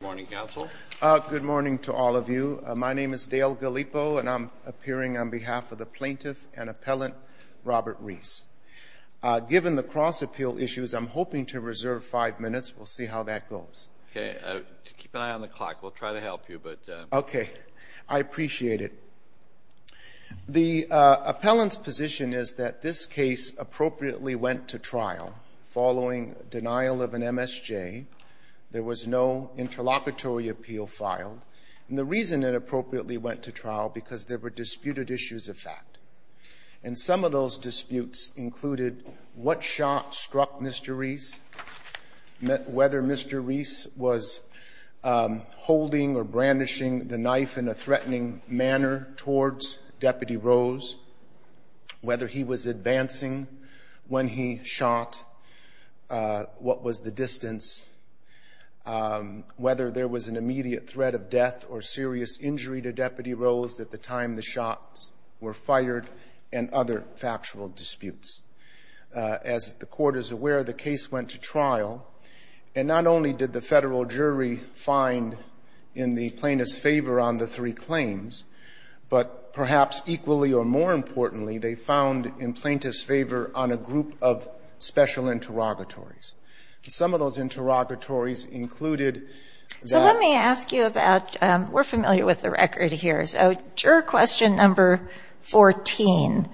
Good morning, Counsel. Good morning to all of you. My name is Dale Gallipo, and I'm appearing on behalf of the Plaintiff and Appellant Robert Reese. Given the cross-appeal issues, I'm hoping to reserve five minutes. We'll see how that goes. Okay. Keep an eye on the clock. We'll try to help you, but— Okay. I appreciate it. The Appellant's position is that this case appropriately went to trial following denial of an MSJ. There was no interlocutory appeal filed. And the reason it appropriately went to trial, because there were disputed issues of fact. And some of those disputes included what shot struck Mr. Reese, whether Mr. Reese was holding or brandishing the shot, what was the distance, whether there was an immediate threat of death or serious injury to Deputy Rose at the time the shots were fired, and other factual disputes. As the Court is aware, the case went to trial, and not only did the federal jury find in the plaintiff's favor on the three claims, but perhaps equally or more importantly, they Some of those interrogatories included that— So let me ask you about — we're familiar with the record here. So juror question number 14.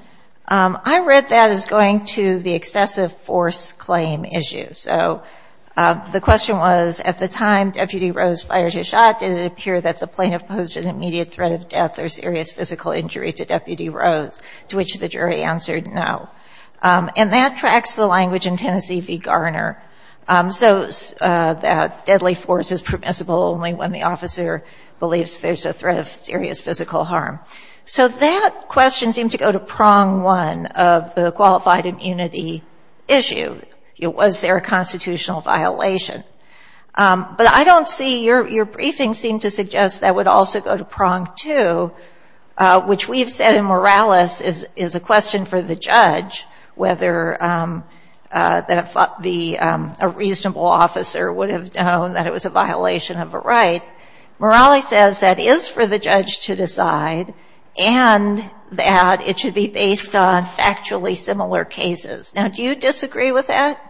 I read that as going to the excessive force claim issue. So the question was, at the time Deputy Rose fired his shot, did it appear that the plaintiff posed an immediate threat of death or serious physical injury to Deputy Rose, to which the jury answered no. And that tracks the language in Tennessee v. Garner. So that deadly force is permissible only when the officer believes there's a threat of serious physical harm. So that question seemed to go to prong one of the qualified immunity issue. Was there a constitutional violation? But I don't see — your briefing seemed to suggest that would also go to prong two, which we've said in Morales is a question for the judge whether the — a reasonable officer would have known that it was a violation of a right. Morales says that is for the judge to decide and that it should be based on factually similar cases. Now, do you disagree with that?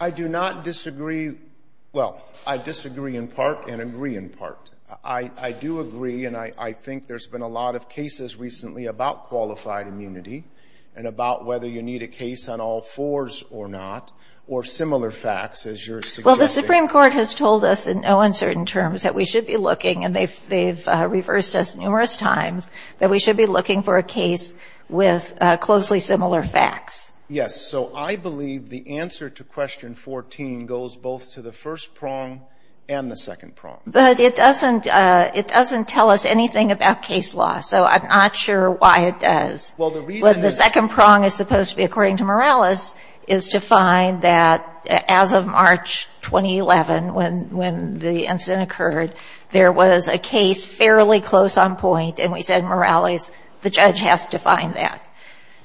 I do not disagree — well, I disagree in part and agree in part. I do agree, and I think there's been a lot of cases recently about qualified immunity and about whether you need a case on all fours or not, or similar facts, as you're suggesting. Well, the Supreme Court has told us in no uncertain terms that we should be looking and they've reversed us numerous times, that we should be looking for a case with closely similar facts. Yes. So I believe the answer to question 14 goes both to the first prong and the second prong. But it doesn't — it doesn't tell us anything about case law, so I'm not sure why it does. Well, the reason is — But the second prong is supposed to be, according to Morales, is to find that as of March 2011, when the incident occurred, there was a case fairly close on point, and we said, according to Morales, the judge has to find that.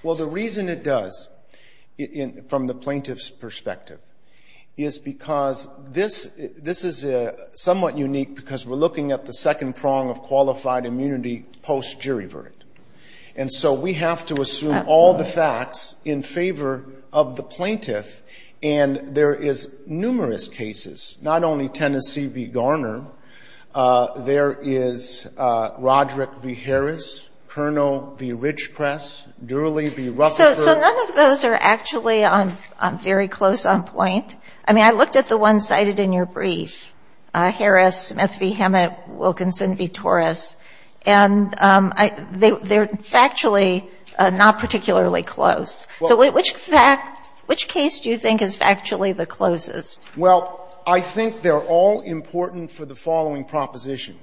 Well, the reason it does, from the plaintiff's perspective, is because this — this is somewhat unique because we're looking at the second prong of qualified immunity post-jury verdict. And so we have to assume all the facts in favor of the plaintiff, and there is numerous cases. Not only Tennessee v. Garner, there is Roderick v. Harris, Kernow v. Ridgepress, Durley v. Rutherford. So none of those are actually on — very close on point. I mean, I looked at the ones cited in your brief, Harris, Smith v. Hammett, Wilkinson v. Torres, and I — they're factually not particularly close. So which fact — which case do you think is factually the closest? Well, I think they're all important for the following proposition.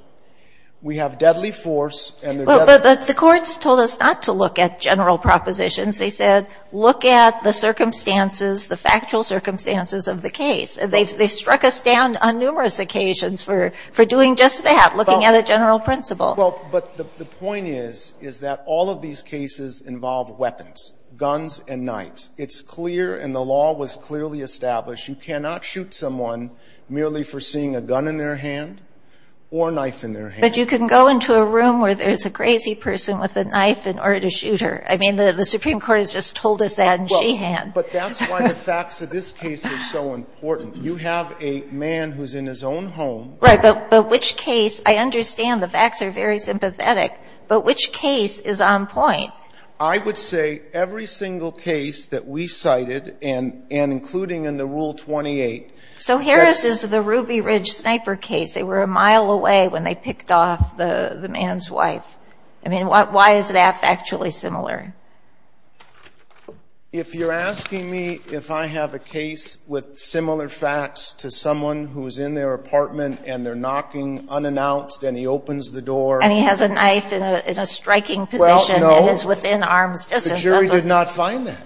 We have deadly force, and there's deadly force. Well, but the courts told us not to look at general propositions. They said, look at the circumstances, the factual circumstances of the case. They've struck us down on numerous occasions for doing just that, looking at a general principle. Well, but the point is, is that all of these cases involve weapons, guns and knives. It's clear, and the law was clearly established, you cannot shoot someone merely for seeing a gun in their hand or a knife in their hand. But you can go into a room where there's a crazy person with a knife in order to shoot her. I mean, the Supreme Court has just told us that in she-hand. Well, but that's why the facts of this case are so important. You have a man who's in his own home. Right. But which case — I understand the facts are very sympathetic, but which case is on point? I would say every single case that we cited, and including in the Rule 28 — So Harris's, the Ruby Ridge sniper case, they were a mile away when they picked off the man's wife. I mean, why is that factually similar? If you're asking me if I have a case with similar facts to someone who's in their apartment and they're knocking unannounced and he opens the door — And he has a knife in a striking position. No. And is within arm's distance. The jury did not find that.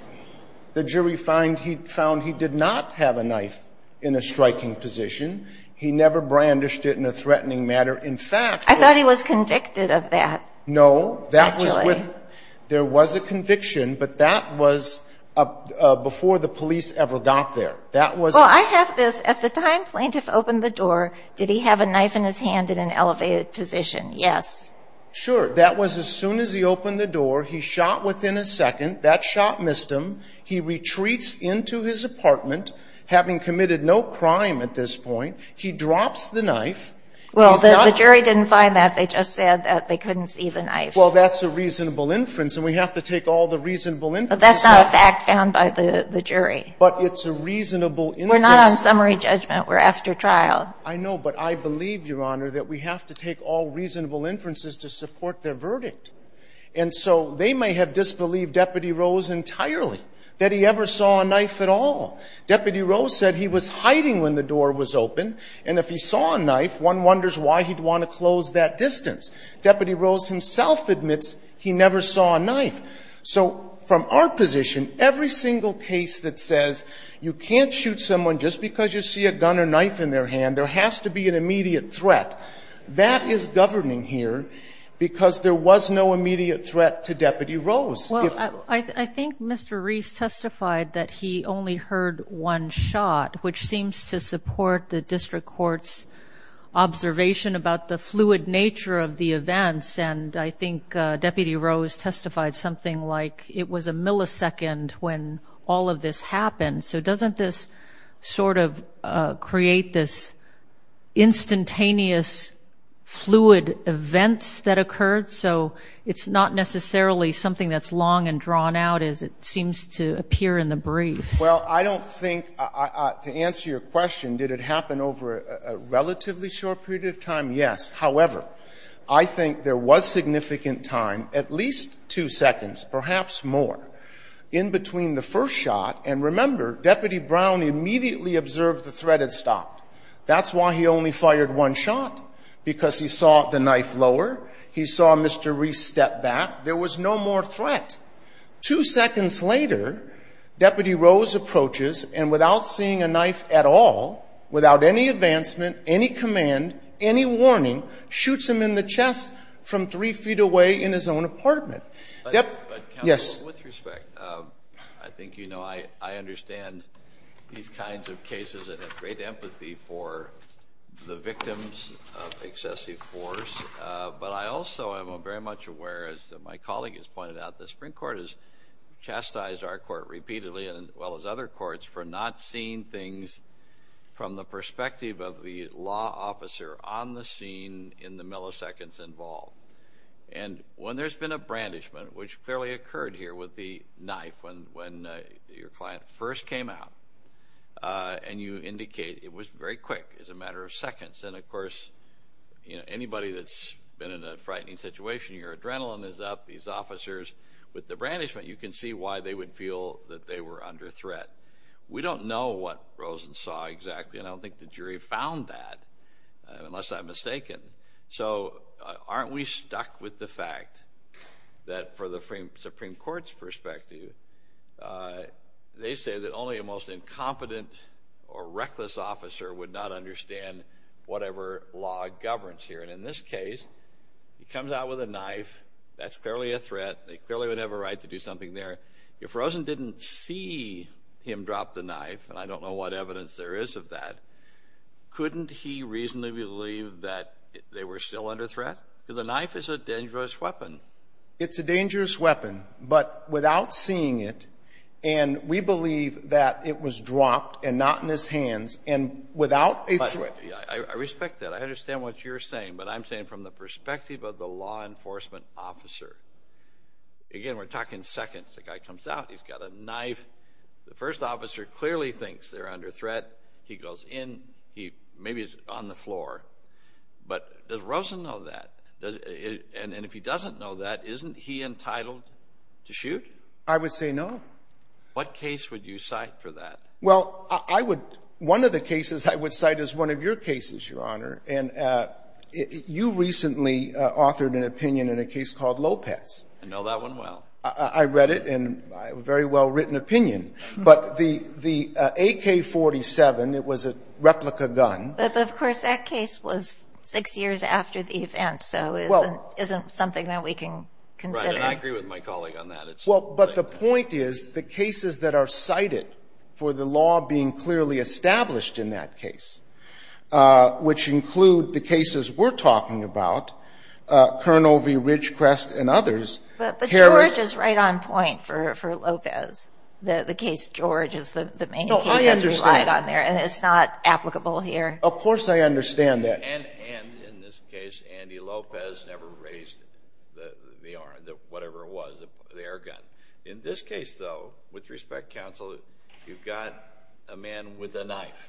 The jury found he did not have a knife in a striking position. He never brandished it in a threatening manner. In fact — I thought he was convicted of that. No. That was with — there was a conviction, but that was before the police ever got there. That was — Well, I have this. At the time plaintiff opened the door, did he have a knife in his hand in an elevated position? Yes. Sure. That was as soon as he opened the door. He shot within a second. That shot missed him. He retreats into his apartment, having committed no crime at this point. He drops the knife. Well, the jury didn't find that. They just said that they couldn't see the knife. Well, that's a reasonable inference, and we have to take all the reasonable inferences — But that's not a fact found by the jury. But it's a reasonable inference. We're not on summary judgment. We're after trial. I know. But I believe, Your Honor, that we have to take all reasonable inferences to support their verdict. And so they may have disbelieved Deputy Rose entirely, that he ever saw a knife at all. Deputy Rose said he was hiding when the door was open, and if he saw a knife, one wonders why he'd want to close that distance. Deputy Rose himself admits he never saw a knife. So from our position, every single case that says you can't shoot someone just because you see a gun or knife in their hand, there has to be an immediate threat, that is governing here because there was no immediate threat to Deputy Rose. Well, I think Mr. Reese testified that he only heard one shot, which seems to support the district court's observation about the fluid nature of the events. And I think Deputy Rose testified something like it was a millisecond when all of this happened. So doesn't this sort of create this instantaneous fluid event that occurred? So it's not necessarily something that's long and drawn out, as it seems to appear in the brief. Well, I don't think, to answer your question, did it happen over a relatively short period of time? Yes. However, I think there was significant time, at least two seconds, perhaps more, in between the first shot. And remember, Deputy Brown immediately observed the threat had stopped. That's why he only fired one shot, because he saw the knife lower, he saw Mr. Reese step back. There was no more threat. Two seconds later, Deputy Rose approaches, and without seeing a knife at all, without any advancement, any command, any warning, shoots him in the chest from three feet away in his own apartment. But, counsel, with respect, I think you know I understand these kinds of cases and have great empathy for the victims of excessive force. But I also am very much aware, as my colleague has pointed out, the Supreme Court has chastised our court repeatedly, as well as other courts, for not seeing things from the perspective of the law officer on the scene in the milliseconds involved. And when there's been a brandishment, which clearly occurred here with the knife when your client first came out, and you indicate it was very quick, it was a matter of seconds. And, of course, anybody that's been in a frightening situation, your adrenaline is up, these officers, with the brandishment, you can see why they would feel that they were under threat. We don't know what Rosen saw exactly, and I don't think the jury found that, unless I'm mistaken. So aren't we stuck with the fact that, for the Supreme Court's perspective, they say that only a most incompetent or reckless officer would not understand whatever law governs here. And in this case, he comes out with a knife, that's clearly a threat, they clearly would have a right to do something there. If Rosen didn't see him drop the knife, and I don't know what evidence there is of that, couldn't he reasonably believe that they were still under threat? Because the knife is a dangerous weapon. It's a dangerous weapon, but without seeing it, and we believe that it was dropped and not in his hands, and without a threat. But, yeah, I respect that. I understand what you're saying, but I'm saying from the perspective of the law enforcement officer, again, we're talking seconds, the guy comes out, he's clearly thinks they're under threat, he goes in, maybe he's on the floor. But does Rosen know that? And if he doesn't know that, isn't he entitled to shoot? I would say no. What case would you cite for that? Well, I would, one of the cases I would cite is one of your cases, Your Honor, and you recently authored an opinion in a case called Lopez. I know that one well. I read it, and a very well-written opinion. But the AK-47, it was a replica gun. But, of course, that case was six years after the event, so it isn't something that we can consider. Right. And I agree with my colleague on that. Well, but the point is, the cases that are cited for the law being clearly established in that case, which include the cases we're talking about, Curnow v. Ridgecrest and others, Harris. But George is right on point for Lopez. The case George is the main case that's relied on there, and it's not applicable here. Of course I understand that. And in this case, Andy Lopez never raised the arm, whatever it was, the air gun. In this case, though, with respect, counsel, you've got a man with a knife,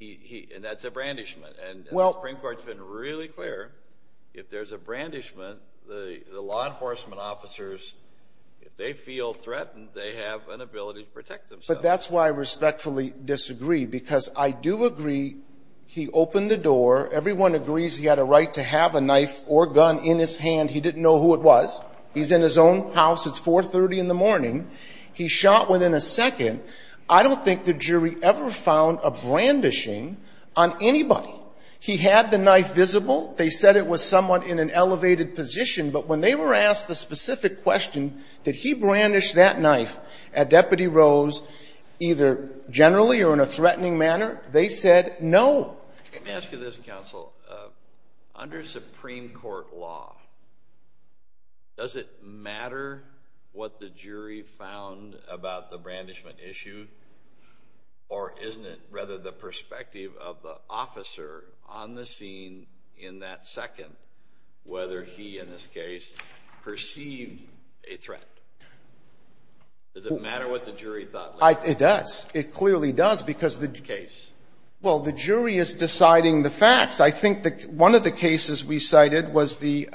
and that's a brandishment. And the Supreme Court's been really clear, if there's a brandishment, the law enforcement officers, if they feel threatened, they have an ability to protect themselves. But that's why I respectfully disagree, because I do agree he opened the door. Everyone agrees he had a right to have a knife or gun in his hand. He didn't know who it was. He's in his own house. It's 4.30 in the morning. He shot within a second. I don't think the jury ever found a brandishing on anybody. He had the knife visible. They said it was somewhat in an elevated position. But when they were asked the specific question, did he brandish that knife at Deputy Rose, either generally or in a threatening manner, they said no. Let me ask you this, counsel. Under Supreme Court law, does it matter what the jury found about the brandishment issue? Or isn't it, rather, the perspective of the officer on the scene in that second, whether he, in this case, perceived a threat? Does it matter what the jury thought? It does. It clearly does. Well, the jury is deciding the facts. I think one of the cases we cited was the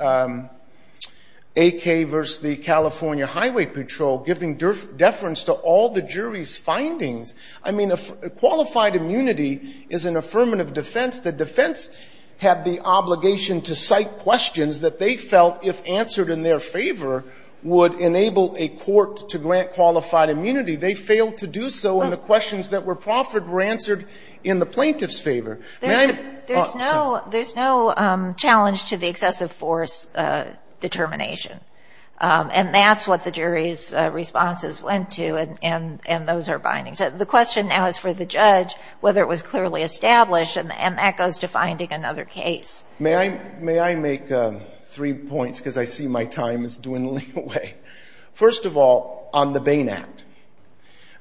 AK versus the California Highway Patrol, giving deference to all the jury's findings. I mean, qualified immunity is an affirmative defense. The defense had the obligation to cite questions that they felt, if answered in their favor, would enable a court to grant qualified immunity. They failed to do so, and the questions that were proffered were answered in the plaintiff's favor. There's no challenge to the excessive force determination. And that's what the jury's responses went to, and those are bindings. The question now is for the judge whether it was clearly established, and that goes to finding another case. May I make three points, because I see my time is dwindling away? First of all, on the Bain Act.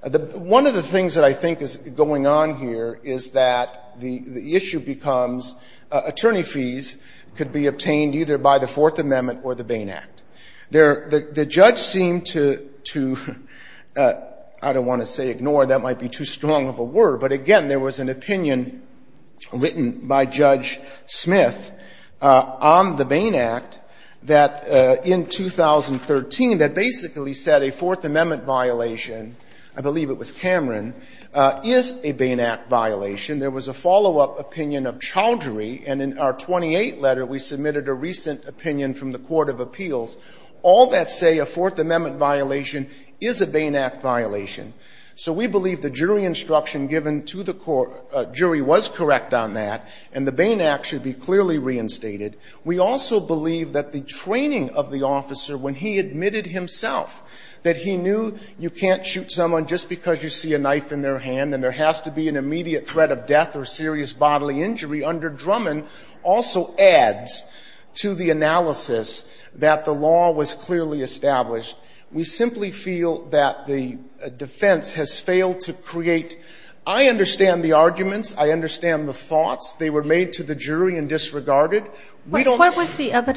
One of the things that I think is going on here is that the issue becomes attorney fees could be obtained either by the Fourth Amendment or the Bain Act. The judge seemed to, I don't want to say ignore. That might be too strong of a word. But again, there was an opinion written by Judge Smith on the Bain Act that in 2013 that basically said a Fourth Amendment violation, I believe it was Cameron, is a Bain Act violation. There was a follow-up opinion of Chowdhury, and in our 28th letter we submitted a recent opinion from the Court of Appeals. All that say a Fourth Amendment violation is a Bain Act violation. So we believe the jury instruction given to the jury was correct on that, and the Bain Act should be clearly reinstated. We also believe that the training of the officer when he admitted himself that he knew you can't shoot someone just because you see a knife in their hand and there has to be an immediate threat of death or serious injury, that there is a direct threat of death. So we believe that the defense has failed to create a clear evidence that the law was clearly established. We simply feel that the defense has failed to create the evidence that the law was clearly established. I understand the arguments. I understand the thoughts. They were made to the jury and disregarded. They wanted to have come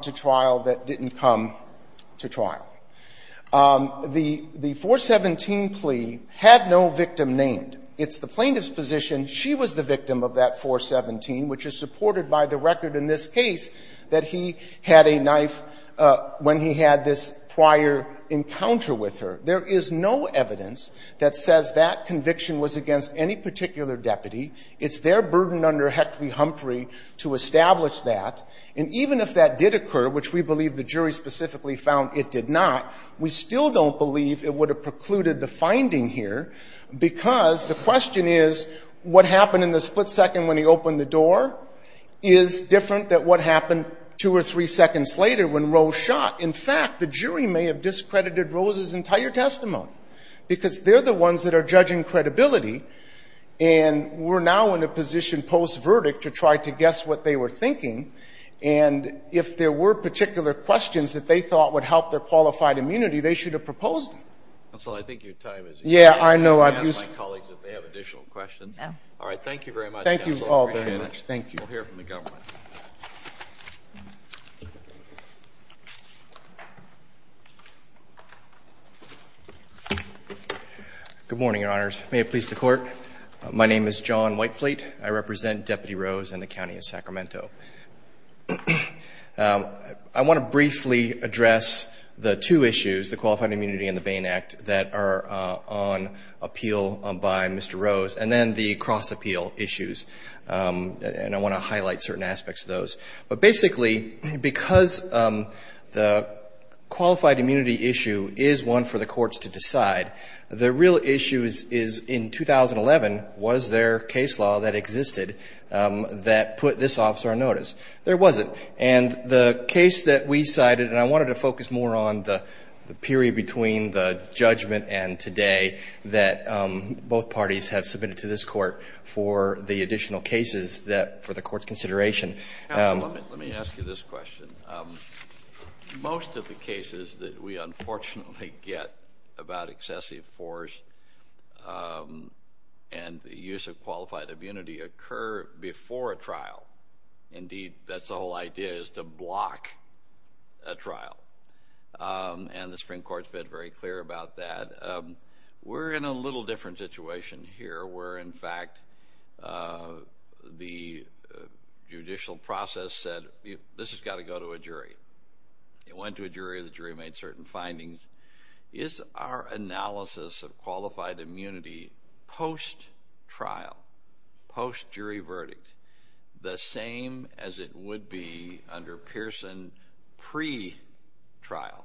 to trial that didn't come to trial. The 417 plea had no victim named. It's the plaintiff's position she was the victim of that 417, which is supported by the record in this case that he had a knife when he had this prior encounter with her. There is no evidence that says that conviction was against any particular deputy. It's their burden under Hectory-Humphrey to establish that. And even if that did occur, which we believe the jury specifically found it did not, we still don't believe it would have precluded the finding here because the question is what happened in the split second when he opened the door is different than what happened two or three seconds later when Rose shot. In fact, the jury may have discredited Rose's entire testimony because they're the ones that are judging credibility. And we're now in a position post-verdict to try to guess what they were thinking. And if there were particular questions that they thought would help their qualified immunity, they should have proposed them. I think your time is up. Yeah, I know. I'll ask my colleagues if they have additional questions. All right. Thank you very much. Thank you all very much. We'll hear from the government. Good morning, Your Honors. May it please the Court. My name is John Whitefleet. I represent Deputy Rose and the County of Sacramento. I want to briefly address the two issues, the Qualified Immunity and the Bain Act, that are on appeal by Mr. Rose, and then the cross-appeal issues. And I want to highlight certain aspects of those. But basically, because the qualified immunity issue is one for the courts to decide, the real issue is, in 2011, was there case law that existed that put this officer on notice? There wasn't. And the case that we cited, and I wanted to focus more on the period between the judgment and today that both parties have submitted to this Court for the additional cases that, for the Court's consideration. Let me ask you this question. Most of the cases that we unfortunately get about excessive force and the use of qualified immunity occur before a trial. Indeed, that's the whole idea, is to block a trial. And the Supreme Court's been very clear about that. We're in a little different situation here, where, in fact, the judicial process said, this has got to go to a jury. It went to a jury, the jury made certain findings. Is our analysis of qualified immunity post-trial, post-jury verdict, the same as it would be under Pearson pre-trial?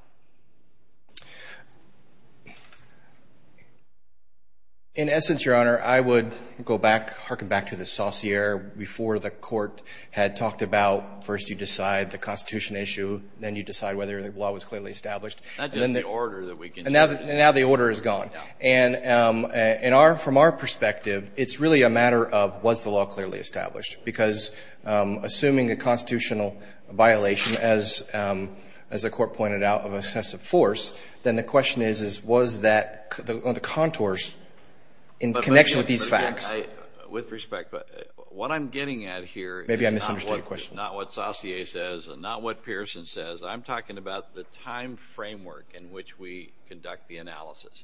In essence, Your Honor, I would go back, harken back to the Saussure, before the trial, first you decide the Constitution issue, then you decide whether the law was clearly established. Not just the order. And now the order is gone. And from our perspective, it's really a matter of, was the law clearly established? Because assuming a constitutional violation, as the Court pointed out, of excessive force, then the question is, was that on the contours in connection with these With respect, what I'm getting at here. Maybe I misunderstood your question. Not what Saussure says, not what Pearson says. I'm talking about the time framework in which we conduct the analysis.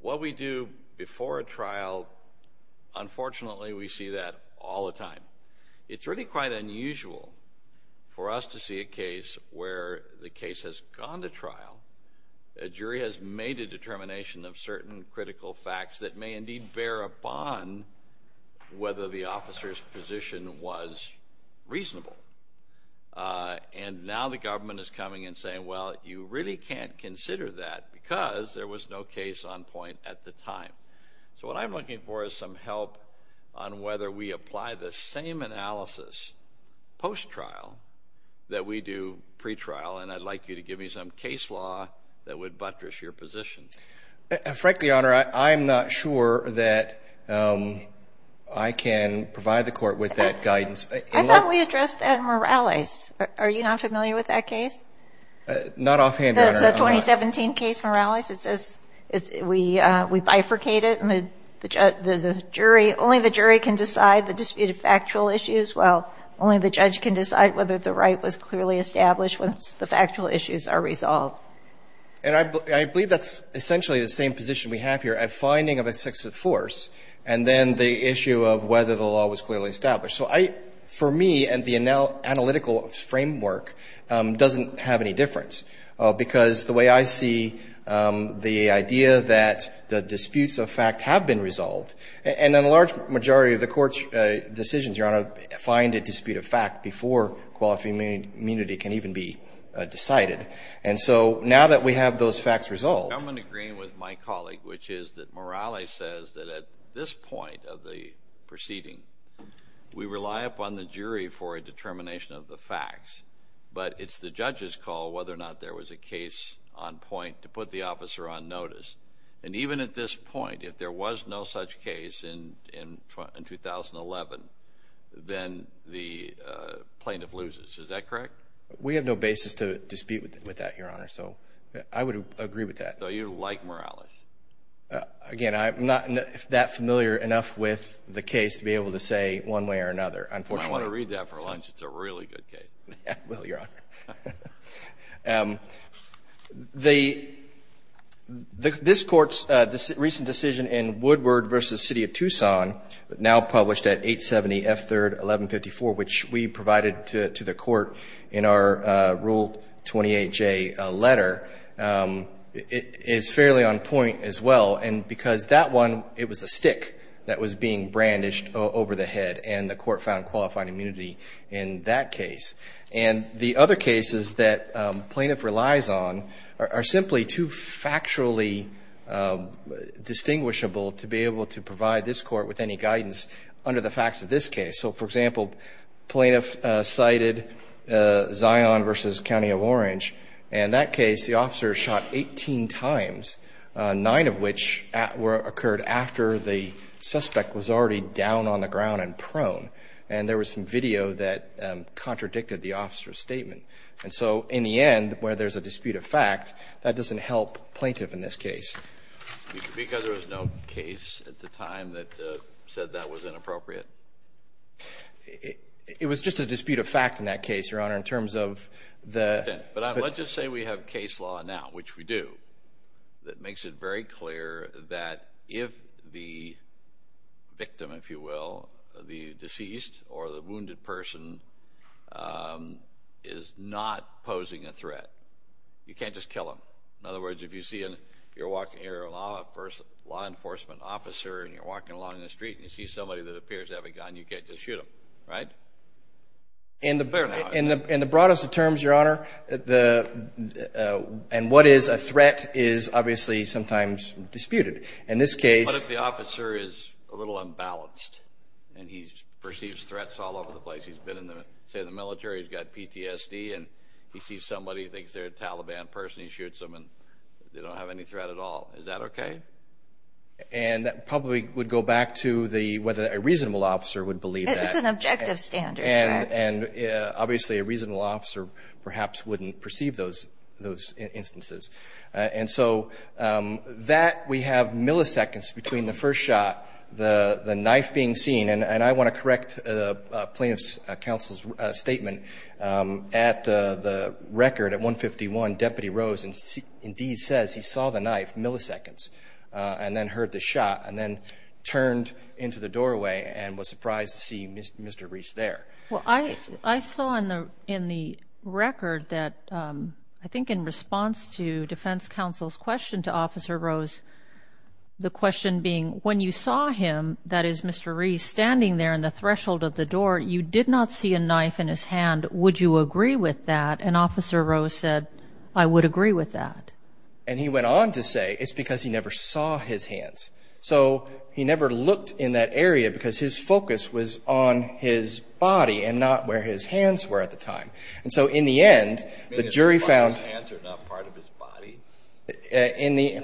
What we do before a trial, unfortunately, we see that all the time. It's really quite unusual for us to see a case where the case has gone to trial, a jury has made a determination of certain critical facts that may indeed bear upon whether the officer's position was reasonable. And now the government is coming and saying, well, you really can't consider that, because there was no case on point at the time. So what I'm looking for is some help on whether we apply the same analysis post-trial that we do pre-trial, and I'd like you to give me some case law that would buttress your position. Frankly, Your Honor, I'm not sure that I can provide the court with that guidance. I thought we addressed that in Morales. Are you not familiar with that case? Not offhand, Your Honor. That's a 2017 case, Morales. It says we bifurcate it, and only the jury can decide the disputed factual issues, while only the judge can decide whether the right was clearly established once the factual issues are resolved. And I believe that's essentially the same position we have here, a finding of excessive force, and then the issue of whether the law was clearly established. So I – for me, the analytical framework doesn't have any difference, because the way I see the idea that the disputes of fact have been resolved, and a large majority of the court's decisions, Your Honor, find a dispute of fact before quality of immunity can even be decided. And so now that we have those facts resolved – I'm in agreement with my colleague, which is that Morales says that at this point of the proceeding, we rely upon the jury for a determination of the facts, but it's the judge's call whether or not there was a case on point to put the officer on notice. And even at this point, if there was no such case in 2011, then the jury kind of loses. Is that correct? We have no basis to dispute with that, Your Honor. So I would agree with that. So you like Morales? Again, I'm not that familiar enough with the case to be able to say one way or another, unfortunately. Well, I want to read that for lunch. It's a really good case. I will, Your Honor. The – this Court's recent decision in Woodward v. City of Tucson, now published at 870 F. 3rd, 1154, which we provided to the Court in our Rule 28J letter, is fairly on point as well. And because that one, it was a stick that was being brandished over the head, and the Court found qualified immunity in that case. And the other cases that plaintiff relies on are simply too factually distinguishable to be able to provide this Court with any guidance under the facts of this case. So, for example, plaintiff cited Zion v. County of Orange. In that case, the officer shot 18 times, nine of which occurred after the suspect was already down on the ground and prone. And there was some video that contradicted the officer's statement. And so, in the end, where there's a dispute of fact, that doesn't help plaintiff in this case. Because there was no case at the time that said that was inappropriate? It was just a dispute of fact in that case, Your Honor, in terms of the – But let's just say we have case law now, which we do, that makes it very clear that if the victim, if you will, you can't just kill him. In other words, if you're a law enforcement officer and you're walking along the street and you see somebody that appears to have a gun, you can't just shoot them, right? In the broadest of terms, Your Honor, and what is a threat is obviously sometimes disputed. In this case – What if the officer is a little unbalanced and he perceives threats all over the place? He's been in the military, he's got PTSD, and he sees somebody, he thinks they're a Taliban person, he shoots them and they don't have any threat at all. Is that okay? And that probably would go back to the – whether a reasonable officer would believe that. It's an objective standard, Your Honor. And obviously, a reasonable officer perhaps wouldn't perceive those instances. And so, that we have milliseconds between the first shot, the knife being seen, and I want to correct the plaintiff's counsel's statement. At the record, at 151, Deputy Rose indeed says he saw the knife, milliseconds, and then heard the shot, and then turned into the doorway and was surprised to see Mr. Reese there. Well, I saw in the record that – I think in response to defense counsel's question to Officer Rose, the question being, when you saw him, that is, Mr. Reese, standing there in the threshold of the door, you did not see a knife in his hand. Would you agree with that? And Officer Rose said, I would agree with that. And he went on to say it's because he never saw his hands. So, he never looked in that area because his focus was on his body and not where his hands were at the time. And so, in the end, the jury found – His hands are not part of his body? In the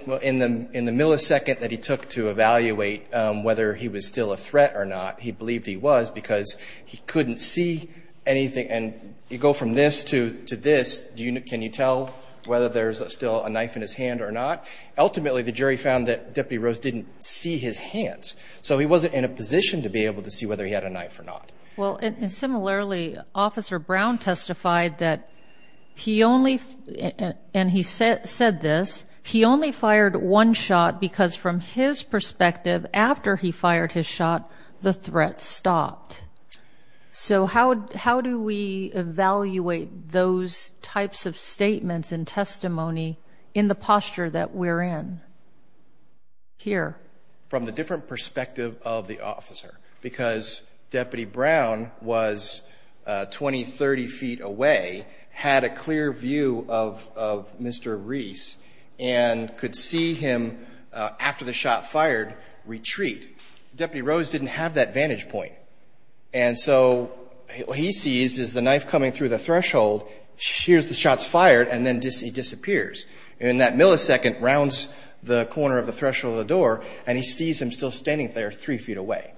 millisecond that he took to evaluate whether he was still a threat or not, he believed he was because he couldn't see anything. And you go from this to this. Can you tell whether there's still a knife in his hand or not? Ultimately, the jury found that Deputy Rose didn't see his hands. So, he wasn't in a position to be able to see whether he had a knife or not. Well, and similarly, Officer Brown testified that he only – and he said this – he only fired one shot because, from his perspective, after he fired his shot, the threat stopped. So, how do we evaluate those types of statements and testimony in the posture that we're in here? From the different perspective of the officer. Because Deputy Brown was 20, 30 feet away, had a clear view of Mr. Reese, and could see him, after the shot fired, retreat. Deputy Rose didn't have that vantage point. And so, what he sees is the knife coming through the threshold, here's the shots fired, and then he disappears. And that millisecond rounds the corner of the threshold of the door, and he sees him still standing there three feet away.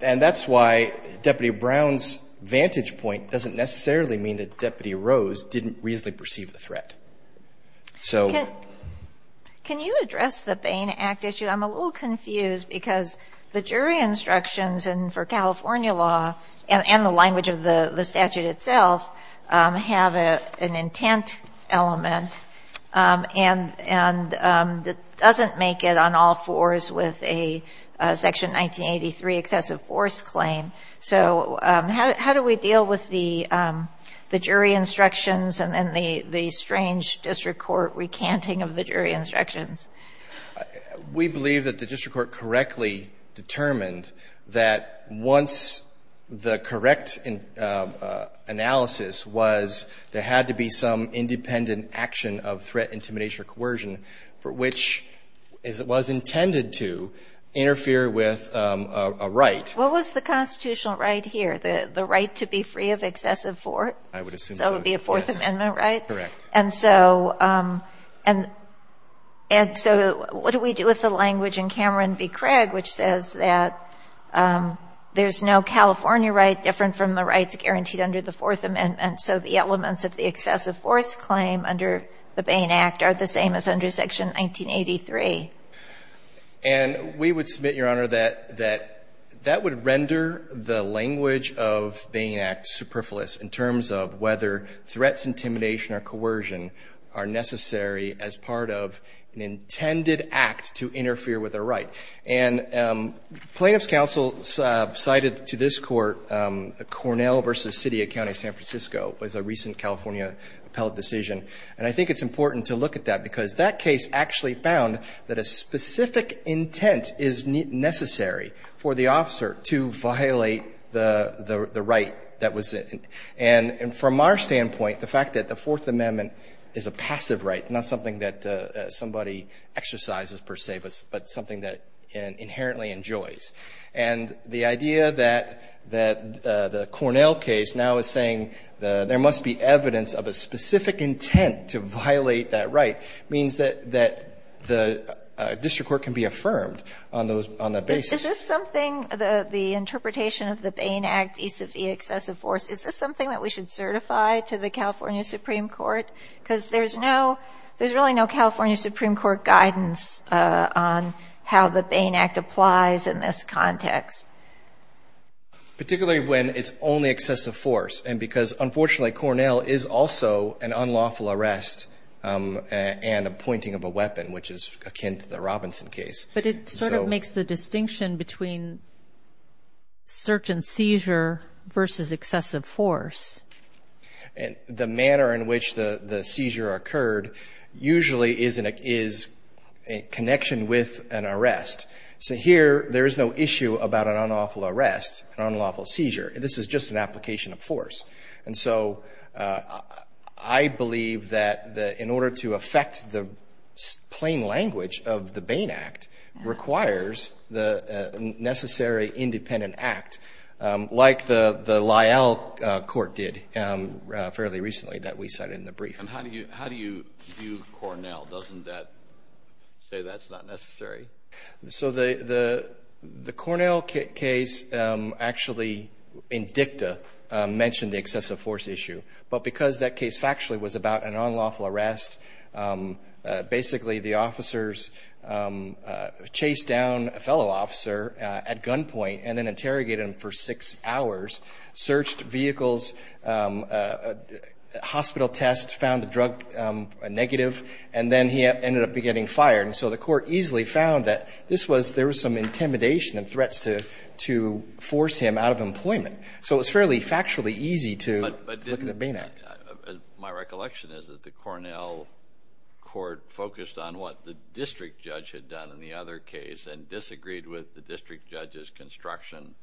And that's why Deputy Brown's vantage point doesn't necessarily mean that Deputy Rose didn't reasonably perceive the threat. So... Can you address the Bain Act issue? I'm a little confused because the jury instructions for California law and the language of the statute itself have an intent element and it doesn't make it on all fours with a Section 1983 excessive force claim. So, how do we deal with the jury instructions and then the strange district court recanting of the jury instructions? We believe that the district court correctly determined that once the correct analysis was there had to be some independent action of threat, intimidation, or coercion for which it was intended to interfere with a right. What was the constitutional right here? The right to be free of excessive force? I would assume so, yes. So, it would be a Fourth Amendment right? Correct. And so, what do we do with the language in Cameron v. Craig which says that there's no California right different from the rights guaranteed under the Fourth Amendment, so the elements of the excessive force claim under the Bain Act are the same as under Section 1983? And we would submit, Your Honor, that that would render the language of Bain Act superfluous in terms of whether threats, intimidation, or coercion are necessary as part of an intended act to interfere with a right. And plaintiff's counsel cited to this court Cornell v. City of County San Francisco as a recent California appellate decision. And I think it's important to look at that because that case actually found that a specific intent is necessary for the officer to violate the right that was in. And from our standpoint, the fact that the Fourth Amendment is a passive right, not something that somebody exercises, per se, but something that inherently enjoys. And the idea that the Cornell case now is saying there must be evidence of a specific intent to violate that right means that the district court can be affirmed on that basis. Is this something, the interpretation of the Bain Act, vis-a-vis excessive force, is this something that we should certify to the California Supreme Court? Because there's really no California Supreme Court guidance on how the Bain Act applies in this context. Particularly when it's only excessive force. Because, unfortunately, Cornell is also an unlawful arrest and a pointing of a weapon, which is akin to the Robinson case. But it sort of makes the distinction between certain seizure versus excessive force. The manner in which the seizure occurred usually is a connection with an arrest. So here, there is no issue about an unlawful arrest, an unlawful seizure. This is just an application of force. And so, I believe that, in order to affect the plain language of the Bain Act, requires the necessary independent act. Like the Lyell court did, fairly recently, that we cited in the brief. And how do you view Cornell? Doesn't that say that's not necessary? So the Cornell case, actually, in dicta, mentioned the excessive force issue. But because that case factually was about an unlawful arrest, basically, the officers chased down a fellow officer at gunpoint and then interrogated him for six hours, searched vehicles, hospital tests, found the drug negative, and then he ended up getting fired. And so the court easily found that there was some intimidation and threats to force him out of employment. So it's fairly factually easy to look at the Bain Act. My recollection is that the Cornell court focused on what the district judge had done in the other case and disagreed with the district judge's construction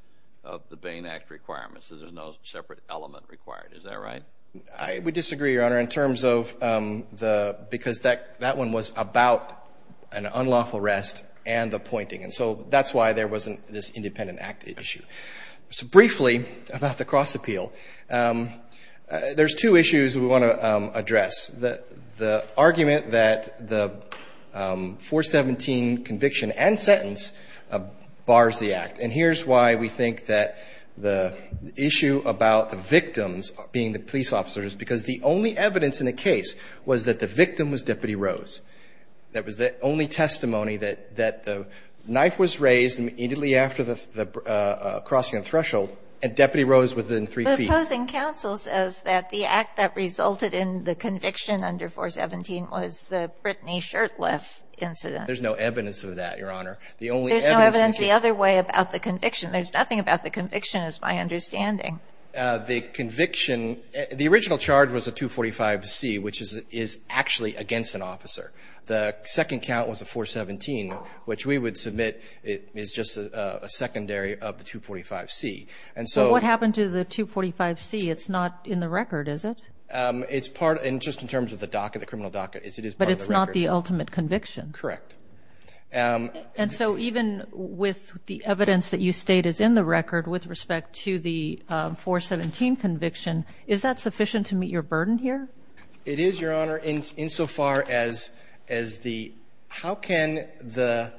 of the Bain Act requirements. There's no separate element required. Is that right? I would disagree, Your Honor, in terms of the because that one was about an unlawful arrest and the pointing. And so that's why there wasn't this independent act issue. So briefly about the cross-appeal, there's two issues we want to address. The argument that the 417 conviction and sentence bars the act. And here's why we think that the issue about the victims being the police officers, because the only evidence in the case was that the victim was Deputy Rose. That was the only testimony that the knife was raised immediately after the crossing of threshold and Deputy Rose was within three feet. But opposing counsel says that the act that resulted in the conviction under 417 was the Brittany Shurtleff incident. There's no evidence of that, Your Honor. There's no evidence the other way about the conviction. There's nothing about the conviction, is my understanding. The conviction, the original charge was a 245C, which is actually against an officer. The second count was a 417, which we would submit is just a secondary of the 245C. So what happened to the 245C? It's not in the record, is it? It's part, just in terms of the docket, the criminal docket, it is part of the record. But it's not the ultimate conviction? Correct. And so even with the evidence that you state is in the record with respect to the 417 conviction, is that sufficient to meet your burden here? It is, Your Honor, insofar as the how can the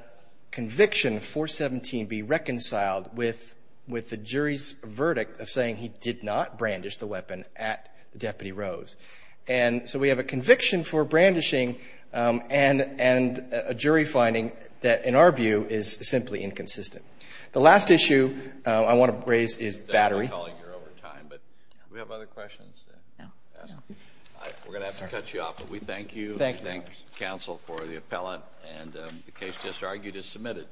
conviction 417 be reconciled with the jury's verdict of saying he did not brandish the weapon at Deputy Rose. And so we have a conviction for brandishing and a jury finding that, in our view, is simply inconsistent. The last issue I want to raise is Battery. We have other questions? No. We're going to have to cut you off, but we thank you. Thank you. We thank counsel for the appellant. And the case just argued is submitted.